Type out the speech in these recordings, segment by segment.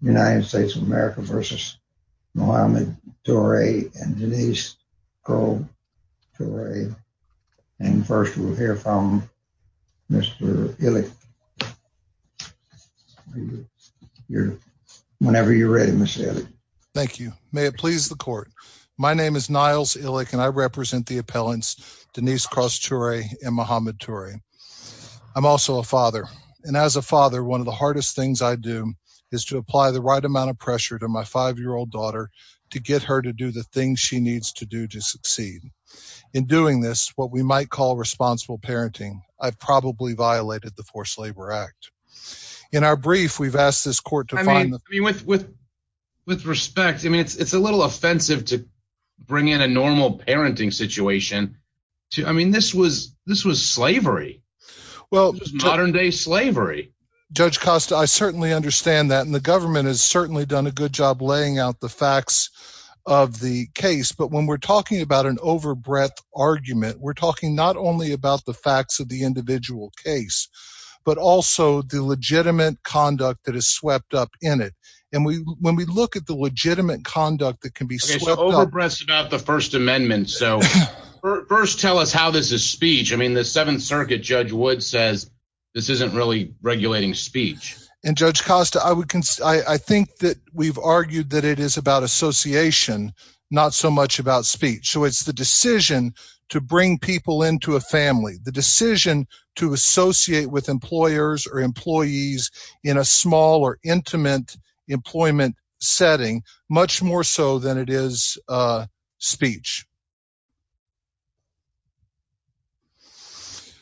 United States of America v. Mohamed Toure and Denise Cross Toure. And first we'll hear from Mr. Illick. Whenever you're ready, Mr. Illick. Thank you. May it please the court. My name is Niles Illick and I represent the appellants Denise Cross Toure and Mohamed Toure. I'm also a father, and as a father, one of the hardest things I do is to apply the right amount of pressure to my five-year-old daughter to get her to do the things she needs to do to succeed. In doing this, what we might call responsible parenting, I've probably violated the forced labor act. In our brief, we've asked this court to find the... With respect, I mean, it's a little offensive to Judge Costa, I certainly understand that. And the government has certainly done a good job laying out the facts of the case. But when we're talking about an over-breath argument, we're talking not only about the facts of the individual case, but also the legitimate conduct that is swept up in it. And when we look at the legitimate conduct that can be swept up... Okay, so over-breaths about the First Amendment. So first tell us how this is speech. I mean, the Seventh Circuit, Judge Wood says this isn't really regulating speech. And Judge Costa, I think that we've argued that it is about association, not so much about speech. So it's the decision to bring people into a family, the decision to associate with employers or employees in a small or intimate employment setting, much more so than it is speech.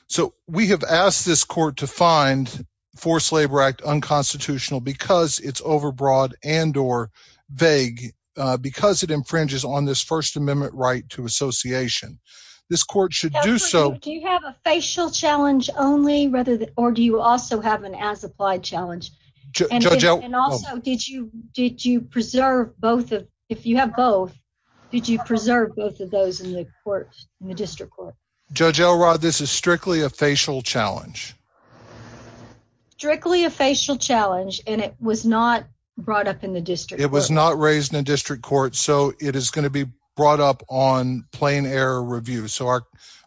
So we have asked this court to find forced labor act unconstitutional because it's overbroad and or vague, because it infringes on this First Amendment right to association. This court should do so... Do you have a facial challenge only, or do you also have an as applied challenge? And also, did you preserve both of... If you have both, did you preserve both of those in the court, in the district court? Judge Elrod, this is strictly a facial challenge. Strictly a facial challenge, and it was not brought up in the district court. It was not raised in the district court, so it is going to be brought up on plain error review. So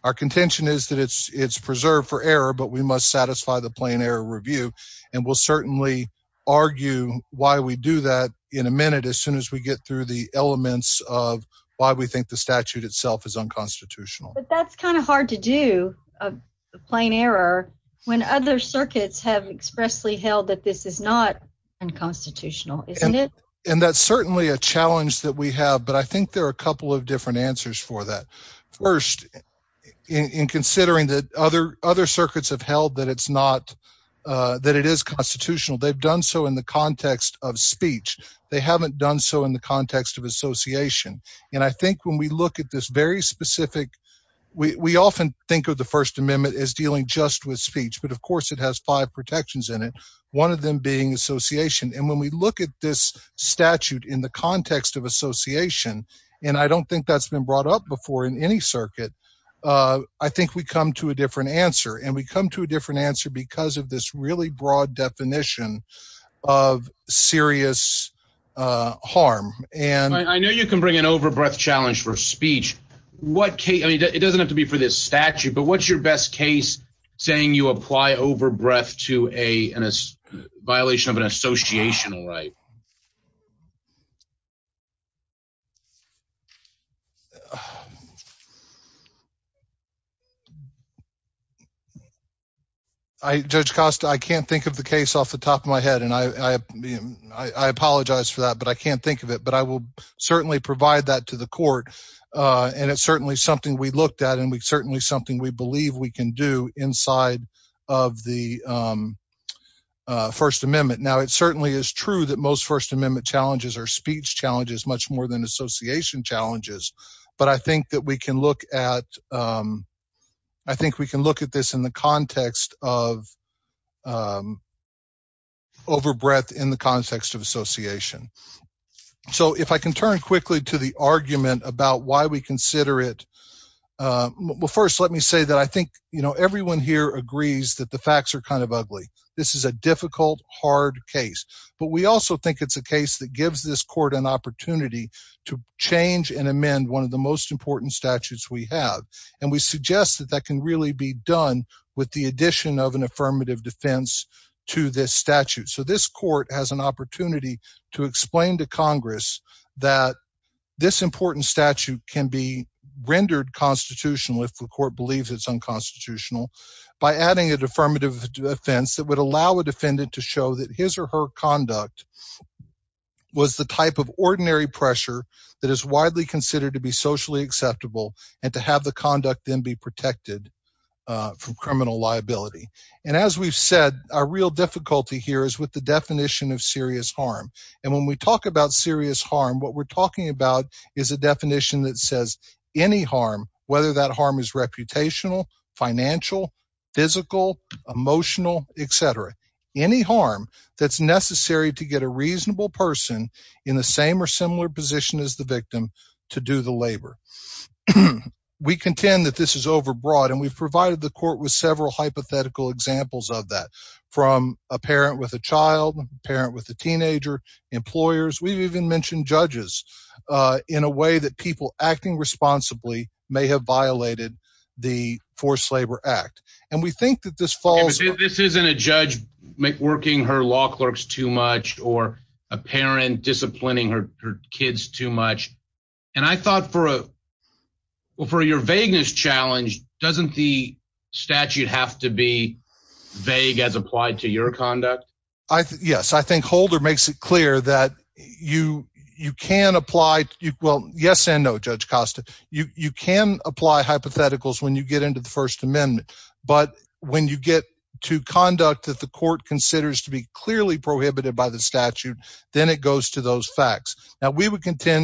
our contention is that it's preserved for error, but we must satisfy the plain error review. And we'll certainly argue why we do that in a minute as soon as we get through the elements of why we think the statute itself is unconstitutional. But that's kind of hard to do, plain error, when other circuits have expressly held that this is not unconstitutional, isn't it? And that's certainly a challenge that we have, but I think there are a couple of different answers for that. First, in considering that other circuits have held that it is constitutional, they've done so in the context of speech. They haven't done so in the context of association. And I think when we look at this very specific... We often think of the First Amendment as dealing just with speech, but of course it has five protections in it, one of them being association. And when we look at this statute in the context of association, and I don't think that's been brought up before in any circuit, I think we come to a different answer. And we come to a different answer because of this really broad definition of serious harm. And... I know you can bring an over-breath challenge for speech. It doesn't have to be for this statute, but what's your best case saying you apply over-breath to a violation of an associational right? I... Judge Costa, I can't think of the case off the top of my head, and I apologize for that, but I can't think of it. But I will certainly provide that to the court. And it's certainly something we looked at, and it's certainly something we believe we can do inside of the First Amendment. Now, it certainly is true that most First Amendment challenges are association challenges, but I think that we can look at... I think we can look at this in the context of over-breath in the context of association. So, if I can turn quickly to the argument about why we consider it... Well, first, let me say that I think everyone here agrees that the facts are kind of ugly. This is a difficult, hard case. But we also think it's a case that changes and amends one of the most important statutes we have. And we suggest that that can really be done with the addition of an affirmative defense to this statute. So, this court has an opportunity to explain to Congress that this important statute can be rendered constitutional if the court believes it's unconstitutional by adding an affirmative defense that would allow a that is widely considered to be socially acceptable and to have the conduct then be protected from criminal liability. And as we've said, our real difficulty here is with the definition of serious harm. And when we talk about serious harm, what we're talking about is a definition that says any harm, whether that harm is reputational, financial, physical, emotional, et cetera, any harm that's necessary to get a reasonable person in the same or similar as the victim to do the labor. We contend that this is overbroad. And we've provided the court with several hypothetical examples of that, from a parent with a child, a parent with a teenager, employers. We've even mentioned judges in a way that people acting responsibly may have violated the forced labor act. And we think that this falls... This isn't a judge working her law too much. And I thought for your vagueness challenge, doesn't the statute have to be vague as applied to your conduct? Yes. I think Holder makes it clear that you can apply... Well, yes and no, Judge Costa. You can apply hypotheticals when you get into the First Amendment. But when you get to conduct that the court considers to be clearly prohibited by the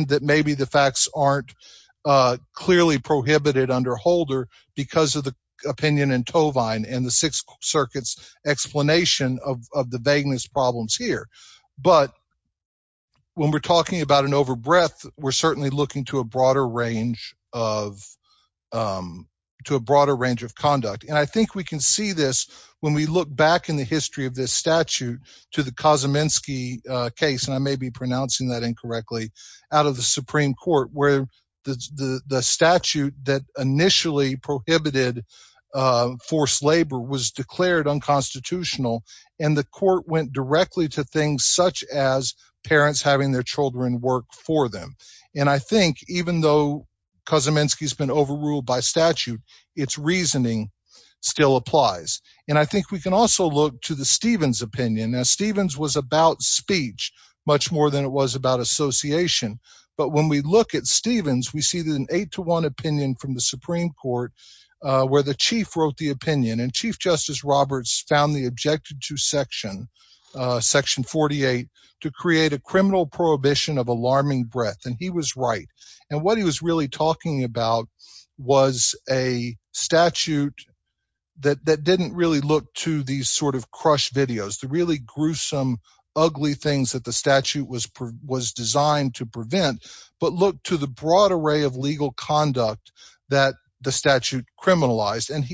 that maybe the facts aren't clearly prohibited under Holder because of the opinion in Tovine and the Sixth Circuit's explanation of the vagueness problems here. But when we're talking about an overbreath, we're certainly looking to a broader range of... To a broader range of conduct. And I think we can see this when we look back in the history of this statute to the Kosominski case, and I may be pronouncing that incorrectly, out of the Supreme Court where the statute that initially prohibited forced labor was declared unconstitutional. And the court went directly to things such as parents having their children work for them. And I think even though Kosominski has been overruled by statute, its reasoning still applies. And I think we can also look to the Stevens opinion. Now, Stevens was about speech much more than it was about association. But when we look at Stevens, we see that an eight-to-one opinion from the Supreme Court where the chief wrote the opinion. And Chief Justice Roberts found the objective to Section 48 to create a criminal prohibition of alarming breath. And he was right. And what he was really talking about was a statute that didn't really look to these sort of crush videos, the really gruesome, ugly things that the statute was designed to prevent, but look to the broad array of legal conduct that the statute criminalized. And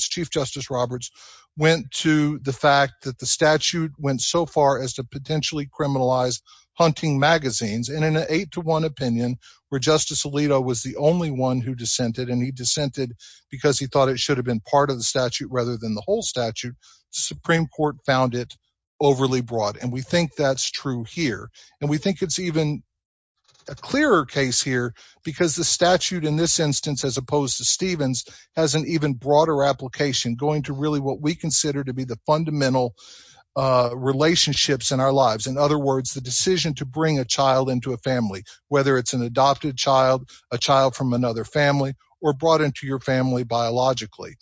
Chief Justice Roberts went to the fact that the statute went so far as to potentially criminalize hunting magazines. And in an eight-to-one opinion, where Justice Alito was the only one who dissented, and he dissented because he thought it should have been part of the statute rather than the whole statute, the Supreme Court found it overly broad. And we think that's true here. And we think it's even a clearer case here because the statute in this instance, as opposed to Stevens, has an even broader application going to really what we consider to be the fundamental relationships in our lives. In other words, the decision to bring a child into a family, whether it's an adopted child, a child from another family, or brought into your family biologically,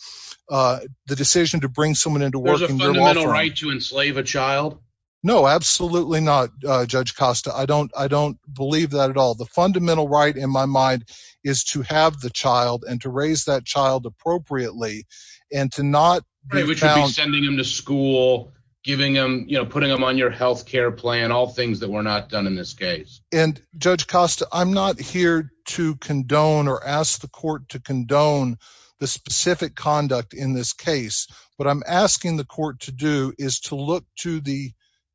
the decision to bring someone into work... There's a fundamental right to enslave a child? No, absolutely not, Judge Costa. I don't believe that at all. The fundamental right in my mind is to have the child and to raise that child appropriately and to not... Which would be sending them to school, putting them on your health care plan, all things that were not done in this case. And Judge Costa, I'm not here to condone or ask the court to condone the specific conduct in this case. What I'm asking the court to do is to look to the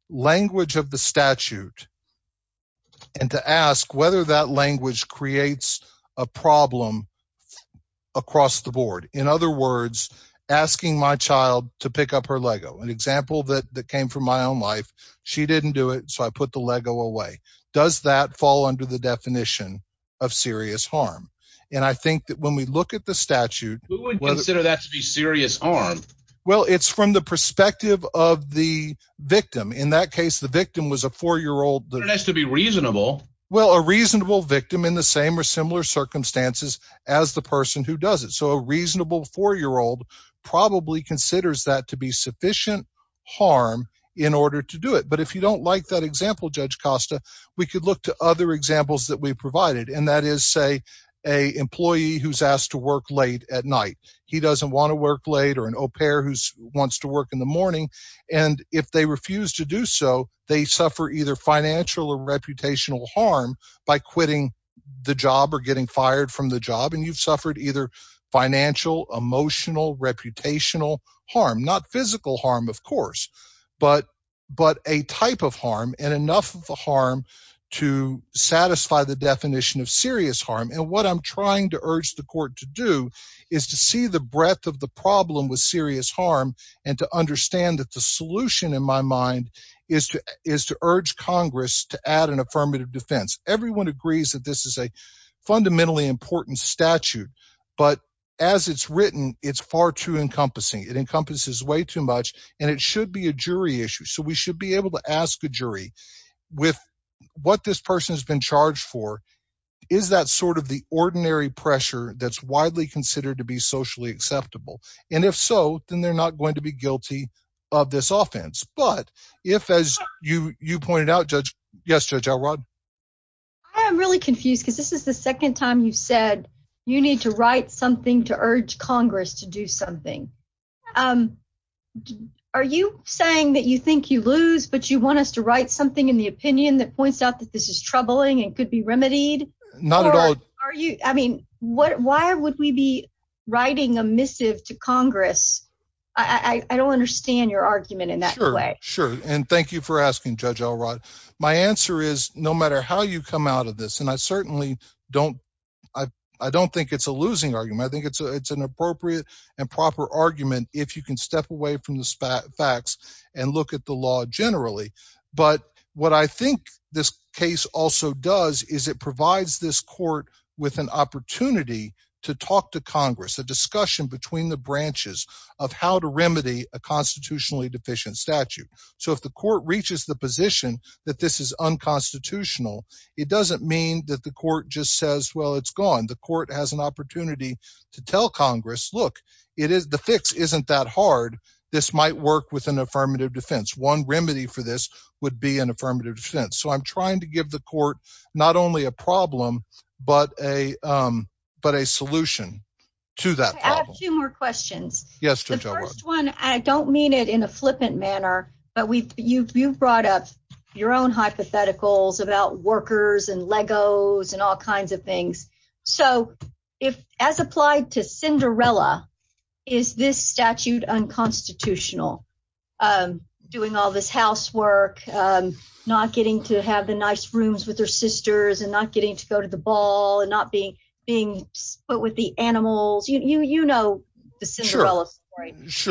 language of the statute and to ask whether that language creates a problem across the board. In other words, asking my child to pick up her Lego, an example that came from my own life, she didn't do it, so I put the Lego away. Does that fall under the definition of serious harm? And I think that when we look at the statute... Who would consider that to be serious harm? Well, it's from the perspective of the victim. In that case, the victim was a four-year-old... That has to be reasonable. Well, a reasonable victim in the same or similar circumstances as the person who does it. So a reasonable four-year-old probably considers that to be sufficient harm in order to do it. But if you don't like that example, Judge Costa, we could look to other examples that we provided. And that is, say, a employee who's asked to work late at night. He doesn't want to work late or an au pair who wants to work in the morning. And if they refuse to do so, they suffer either financial or You've suffered either financial, emotional, reputational harm. Not physical harm, of course, but a type of harm and enough of a harm to satisfy the definition of serious harm. And what I'm trying to urge the court to do is to see the breadth of the problem with serious harm and to understand that the solution in my mind is to urge Congress to add an affirmative defense. Everyone agrees that this is a fundamentally important statute, but as it's written, it's far too encompassing. It encompasses way too much and it should be a jury issue. So we should be able to ask a jury, with what this person has been charged for, is that sort of the ordinary pressure that's widely considered to be socially acceptable? And if so, then they're not going to guilty of this offense. But if, as you pointed out, Judge. Yes, Judge Elrod. I am really confused because this is the second time you've said you need to write something to urge Congress to do something. Are you saying that you think you lose, but you want us to write something in the opinion that points out that this is troubling and could be remedied? Not at all. Are you, I mean, why would we be writing a missive to Congress? I don't understand your argument in that way. Sure. And thank you for asking Judge Elrod. My answer is no matter how you come out of this, and I certainly don't, I don't think it's a losing argument. I think it's an appropriate and proper argument if you can step away from the facts and look at the law generally. But what I think this case also does is it provides this court with an opportunity to talk to Congress, a discussion between the branches of how to remedy a constitutionally deficient statute. So if the court reaches the position that this is unconstitutional, it doesn't mean that the court just says, well, it's gone. The court has an opportunity to tell Congress, look, the fix isn't that hard. This might work with an affirmative defense. One remedy for this would be an affirmative defense. So I'm trying to give the court not only a problem, but a solution to that problem. I have two more questions. Yes, Judge Elrod. The first one, I don't mean it in a flippant manner, but you've brought up your own hypotheticals about workers and Legos and all kinds of things. So as applied to Cinderella, is this statute unconstitutional? I'm doing all this housework, not getting to have the nice rooms with her sisters and not getting to go to the ball and not being being put with the animals. You know the Cinderella story. Is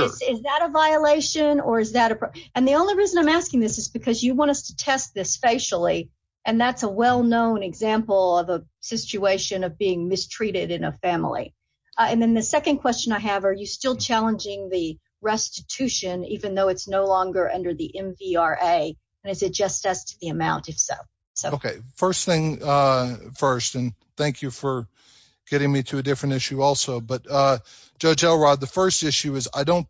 that a violation or is that a and the only reason I'm asking this is because you want us to test this facially. And that's a well-known example of a situation of being mistreated in a family. And then the second question I have, are you still challenging the restitution, even though it's no longer under the MVRA? And is it just as to the amount if so? OK, first thing first, and thank you for getting me to a different issue also. But Judge Elrod, the first issue is I don't.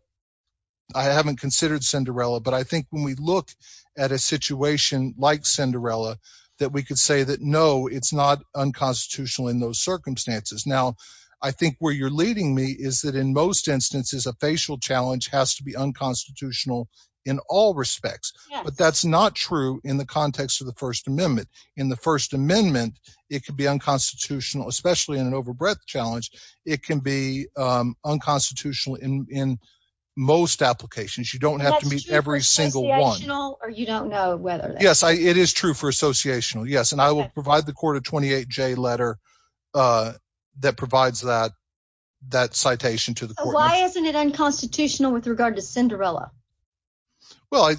I haven't considered Cinderella, but I think when we look at a situation like Cinderella that we could say that, no, it's not unconstitutional in those circumstances. Now, I think where you're leading me is that in most instances, a facial challenge has to be unconstitutional in all respects. But that's not true in the context of the First Amendment. In the First Amendment, it could be unconstitutional, especially in an overbreadth challenge. It can be unconstitutional in most applications. You don't have to meet every single one or you don't know whether. Yes, it is true for associational. Yes. And I will provide the 28J letter that provides that citation to the court. Why isn't it unconstitutional with regard to Cinderella? Well,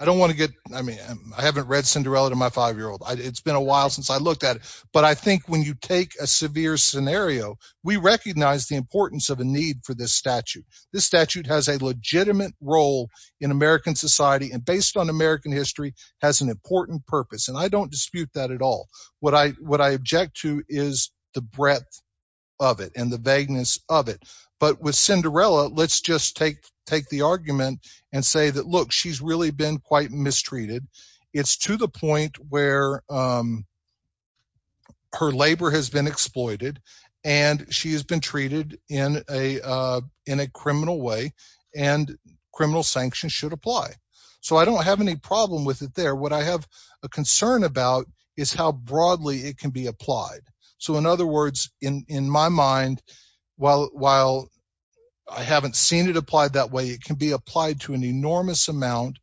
I don't want to get, I mean, I haven't read Cinderella to my five-year-old. It's been a while since I looked at it. But I think when you take a severe scenario, we recognize the importance of a need for this statute. This statute has a legitimate role in American society and based on American history has an important purpose. And I don't dispute that at all. What I object to is the breadth of it and the vagueness of it. But with Cinderella, let's just take the argument and say that, look, she's really been quite mistreated. It's to the extent that it can be applied. So, in other words, in my mind, while I haven't seen it applied that way, it can be applied to an enormous amount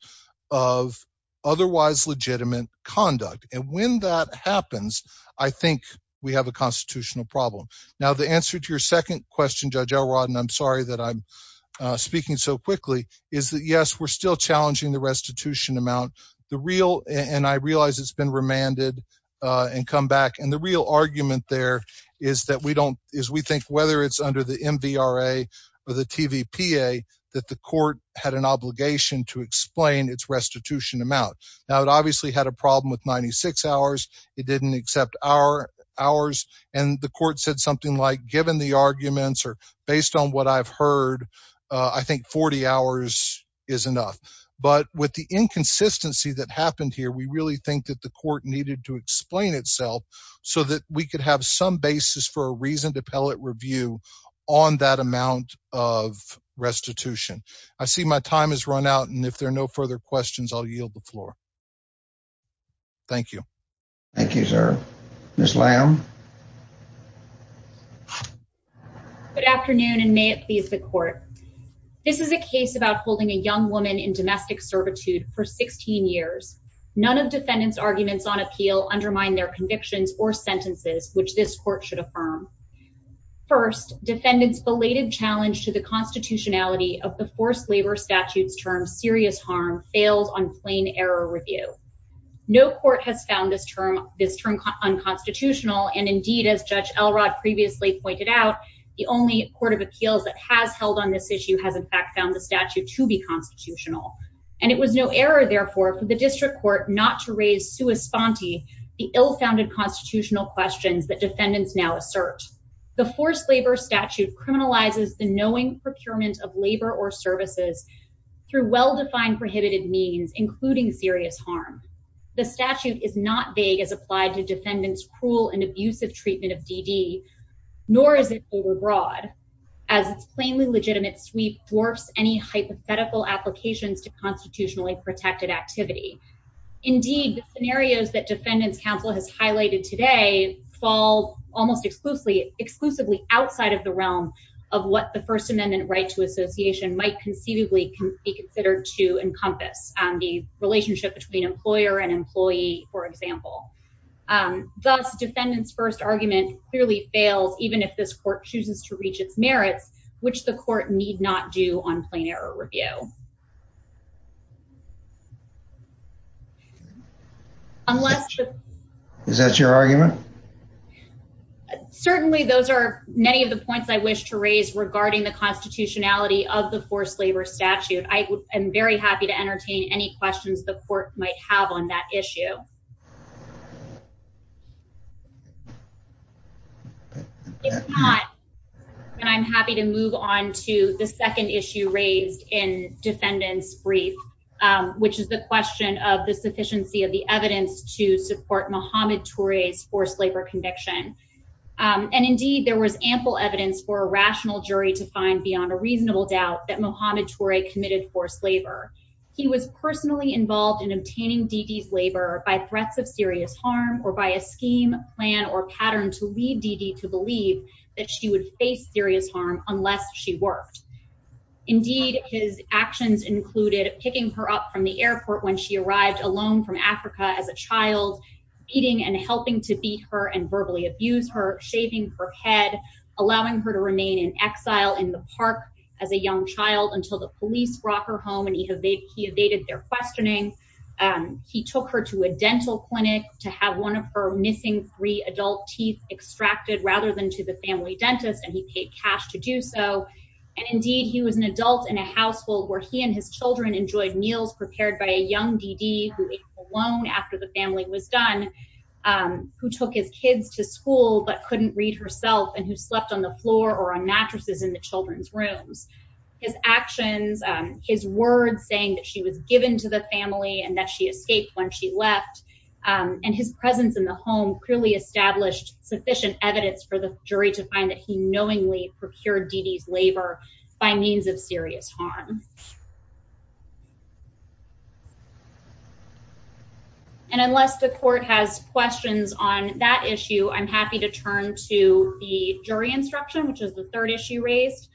of otherwise legitimate conduct. And when that happens, I think we have a constitutional problem. Now, the answer to your second question, Judge we're still challenging the restitution amount. And I realize it's been remanded and come back. And the real argument there is we think whether it's under the MVRA or the TVPA that the court had an obligation to explain its restitution amount. Now, it obviously had a problem with 96 hours. It didn't accept hours. And the court said something like, given the arguments or based on what I've heard, I think 40 hours is enough. But with the inconsistency that happened here, we really think that the court needed to explain itself so that we could have some basis for a reason to pellet review on that amount of restitution. I see my time has run out. And if there are no further questions, I'll yield the floor. Thank you. Thank you, sir. Ms. Lamb. Good afternoon and may it please the court. This is a case about holding a young woman in domestic servitude for 16 years. None of defendants arguments on appeal undermine their convictions or sentences, which this court should affirm. First defendants belated challenge to the constitutionality of the forced labor statutes term serious harm fails on plain error review. No court has found this term this term unconstitutional. And indeed, as Judge Elrod previously pointed out, the only court of appeals that has held on this issue has in fact found the statute to be constitutional. And it was no error, therefore, for the district court not to raise sua sponte, the ill founded constitutional questions that defendants now assert. The forced labor statute criminalizes the knowing procurement of labor or services through well-defined prohibited means, including serious harm. The statute is not vague as applied to defendants, cruel and abusive treatment of DD, nor is it overbroad as it's plainly legitimate sweep dwarfs any hypothetical applications to constitutionally protected activity. Indeed, the scenarios that defendants council has highlighted today fall almost exclusively, exclusively outside of the realm of what the first amendment right to association might conceivably be considered to encompass the relationship between employer and employee. For example, thus defendants first argument clearly fails, even if this court chooses to reach its merits, which the court need not do on plain error review. Unless that's your argument. Certainly those are many of the points I wish to raise regarding the constitutionality of the forced labor statute. I am very happy to entertain any questions the court might have on that issue. And I'm happy to move on to the second issue raised in defendants brief, which is the question of the sufficiency of the evidence to support Muhammad Torres forced labor conviction. And indeed, there was ample evidence for a rational jury to find beyond a reasonable doubt that Muhammad Tory committed forced labor. He was personally involved in obtaining DD's labor by threats of serious harm or by a scheme plan or pattern to lead DD to believe that she would face serious harm unless she worked. Indeed, his actions included picking her up from the airport when she arrived alone from Africa as a child, eating and helping to beat her and verbally abuse her shaving her head, allowing her to remain in exile in the park as a young child until the police brought her home and he evaded their questioning. He took her to a dental clinic to have one of her missing three adult teeth extracted rather than to the family dentist, and he paid cash to do so. And indeed, he was an adult in a household where he and his children enjoyed meals prepared by a loan after the family was done, who took his kids to school but couldn't read herself and who slept on the floor or on mattresses in the children's rooms. His actions, his words saying that she was given to the family and that she escaped when she left and his presence in the home clearly established sufficient evidence for the jury to find that he knowingly procured DD's labor by means of serious harm. And unless the court has questions on that issue, I'm happy to turn to the jury instruction, which is the third issue raised.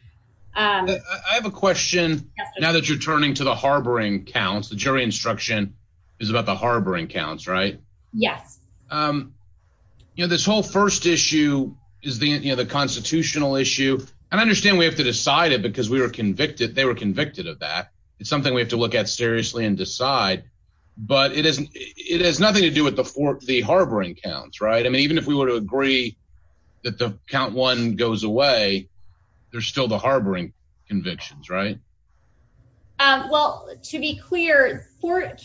I have a question. Now that you're turning to the harboring counts, the jury instruction is about the harboring counts, right? Yes. You know, this whole first issue is the, you know, the constitutional issue. And I understand we have to decide it because we were convicted. They were convicted of that. It's something we have to look at seriously and decide. But it isn't. It has nothing to do with the for the harboring counts, right? I mean, even if we were to agree that the count one goes away, there's still the harboring convictions, right? Well, to be clear,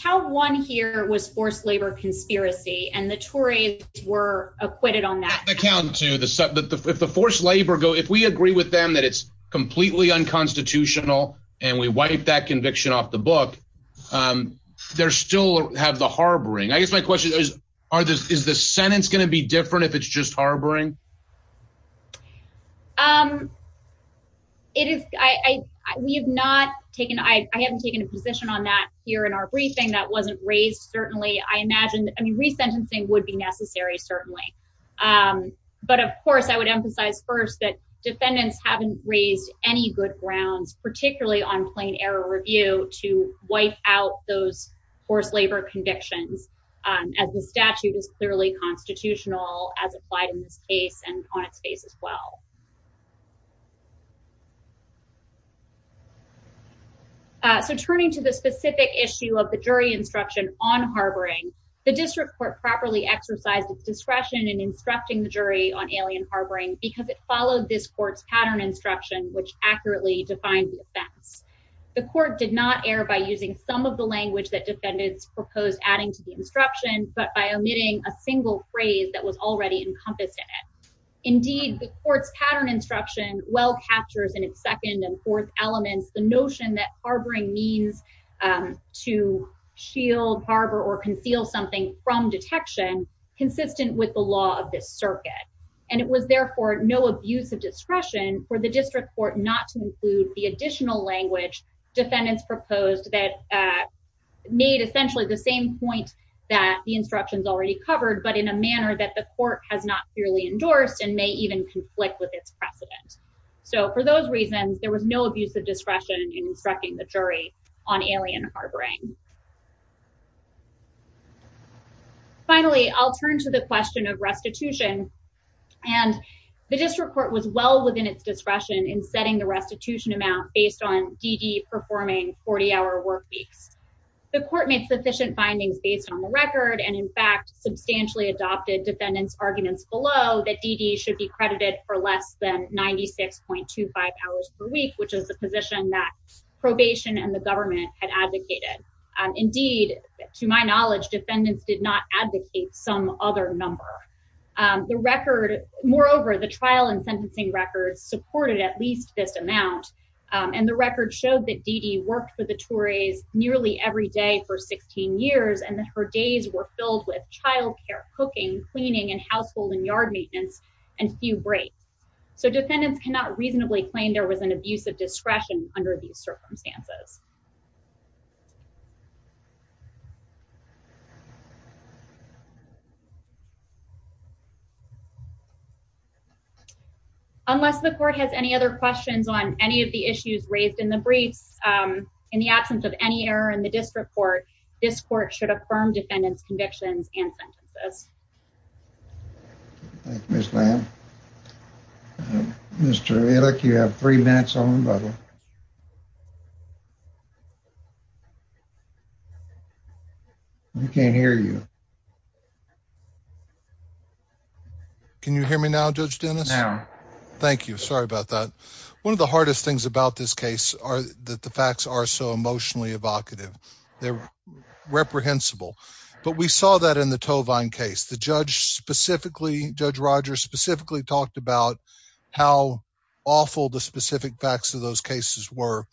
count one here was forced labor conspiracy, and the Tories were acquitted on that account to the if the forced labor go, if we agree with them that it's completely unconstitutional, and we wipe that conviction off the book, there still have the harboring. I guess my question is, are there is the sentence going to be different if it's just harboring? Um, it is I we have not taken I haven't taken a position on that here in our briefing that wasn't raised. Certainly, I imagine I mean, resentencing would be necessary, certainly. But of course, I would emphasize first that defendants haven't raised any good grounds, particularly on plain error review to wipe out those forced labor convictions, as the statute is clearly constitutional as applied in this case and on its face as well. So turning to the specific issue of the jury instruction on harboring, the district court properly exercised its discretion in instructing the jury on alien harboring because it followed this court's pattern instruction, which accurately defined the offense. The court did not air by using some of the language that defendants proposed adding to the instruction, but by omitting a single phrase that was already encompassed in it. Indeed, the court's pattern instruction well captures in its second and fourth elements, the notion that harboring means to shield harbor or conceal something from detection consistent with the law of this circuit. And it was therefore no abuse of discretion for the district court not to include the additional language defendants proposed that made essentially the same point that the instructions already covered, but in a manner that the court has not clearly endorsed and may even conflict with its precedent. So for those reasons, there was no abuse of discretion in instructing the jury on alien harboring. Finally, I'll turn to the question of restitution and the district court was well within its discretion in setting the restitution amount based on DD performing 40 hour work weeks. The court made sufficient findings based on the record. And in fact, substantially adopted defendants arguments below that DD should be credited for less than 96.25 hours per week, which is the probation and the government had advocated. Indeed, to my knowledge, defendants did not advocate some other number. The record, moreover, the trial and sentencing records supported at least this amount. And the record showed that DD worked for the Tories nearly every day for 16 years and that her days were filled with childcare, cooking, cleaning and household and yard maintenance and few breaks. So defendants cannot reasonably claim there was an abuse of discretion under these circumstances. Unless the court has any other questions on any of the issues raised in the briefs, um, in the absence of any error in the district court, this court should affirm defendant's convictions and sentences. Thank you, Miss Lamb. Mr. Ehrlich, you have three minutes on the bubble. We can't hear you. Can you hear me now, Judge Dennis? Thank you. Sorry about that. One of the hardest things about this case are that the facts are so emotionally evocative. They're reprehensible. But we saw that in the Tovine case. The judge specifically, Judge Rogers specifically talked about how awful the specific facts of those cases were.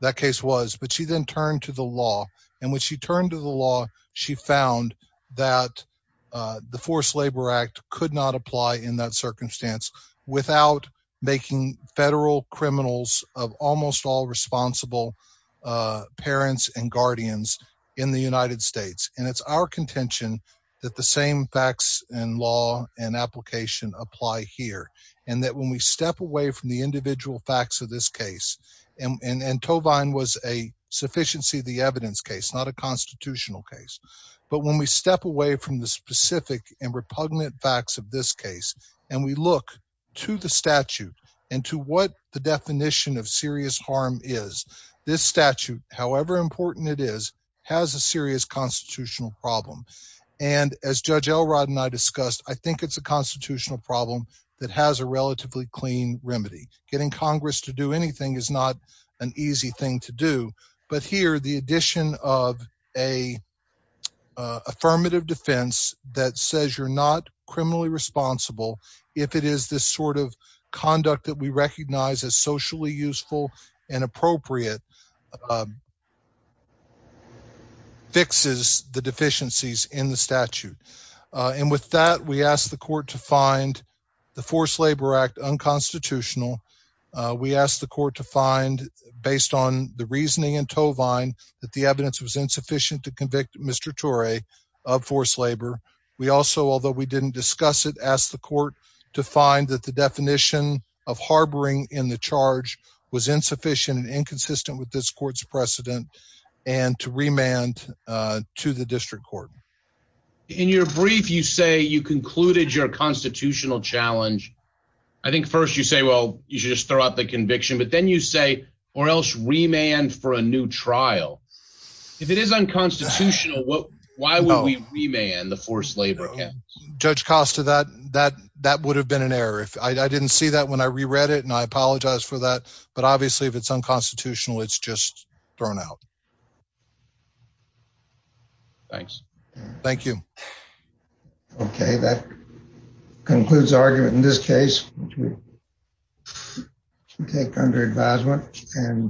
That case was, but she then turned to the law. And when she turned to the law, she found that the forced labor act could not apply in that circumstance without making federal criminals of almost all responsible parents and guardians in the United States. And it's our contention that the same facts and law and application apply here. And that when we step away from the individual facts of this case, and Tovine was a sufficiency of the evidence case, not a constitutional case. But when we step away from the specific and repugnant facts of this case and we look to the statute and to what the definition of serious harm is, this statute, however important it is, has a serious constitutional problem. And as Judge Elrod and I discussed, I think it's a constitutional problem that has a relatively clean remedy. Getting Congress to do anything is not an easy thing to do. But here, the addition of a affirmative defense that says you're not criminally responsible if it is this sort of conduct that we recognize as socially useful and appropriate fixes the deficiencies in the statute. And with that, we asked the court to find the forced labor act unconstitutional. We asked the court to find based on the reasoning and of forced labor. We also, although we didn't discuss it, asked the court to find that the definition of harboring in the charge was insufficient and inconsistent with this court's precedent and to remand to the district court. In your brief, you say you concluded your constitutional challenge. I think first you say, well, you should just throw out the conviction, but then you say or else remand for a new trial. If it is unconstitutional, why would we remand the forced labor? Judge Costa, that would have been an error. I didn't see that when I reread it, and I apologize for that. But obviously, if it's unconstitutional, it's just thrown out. Thanks. Thank you. Okay, that concludes the argument in this case. Take under advisement and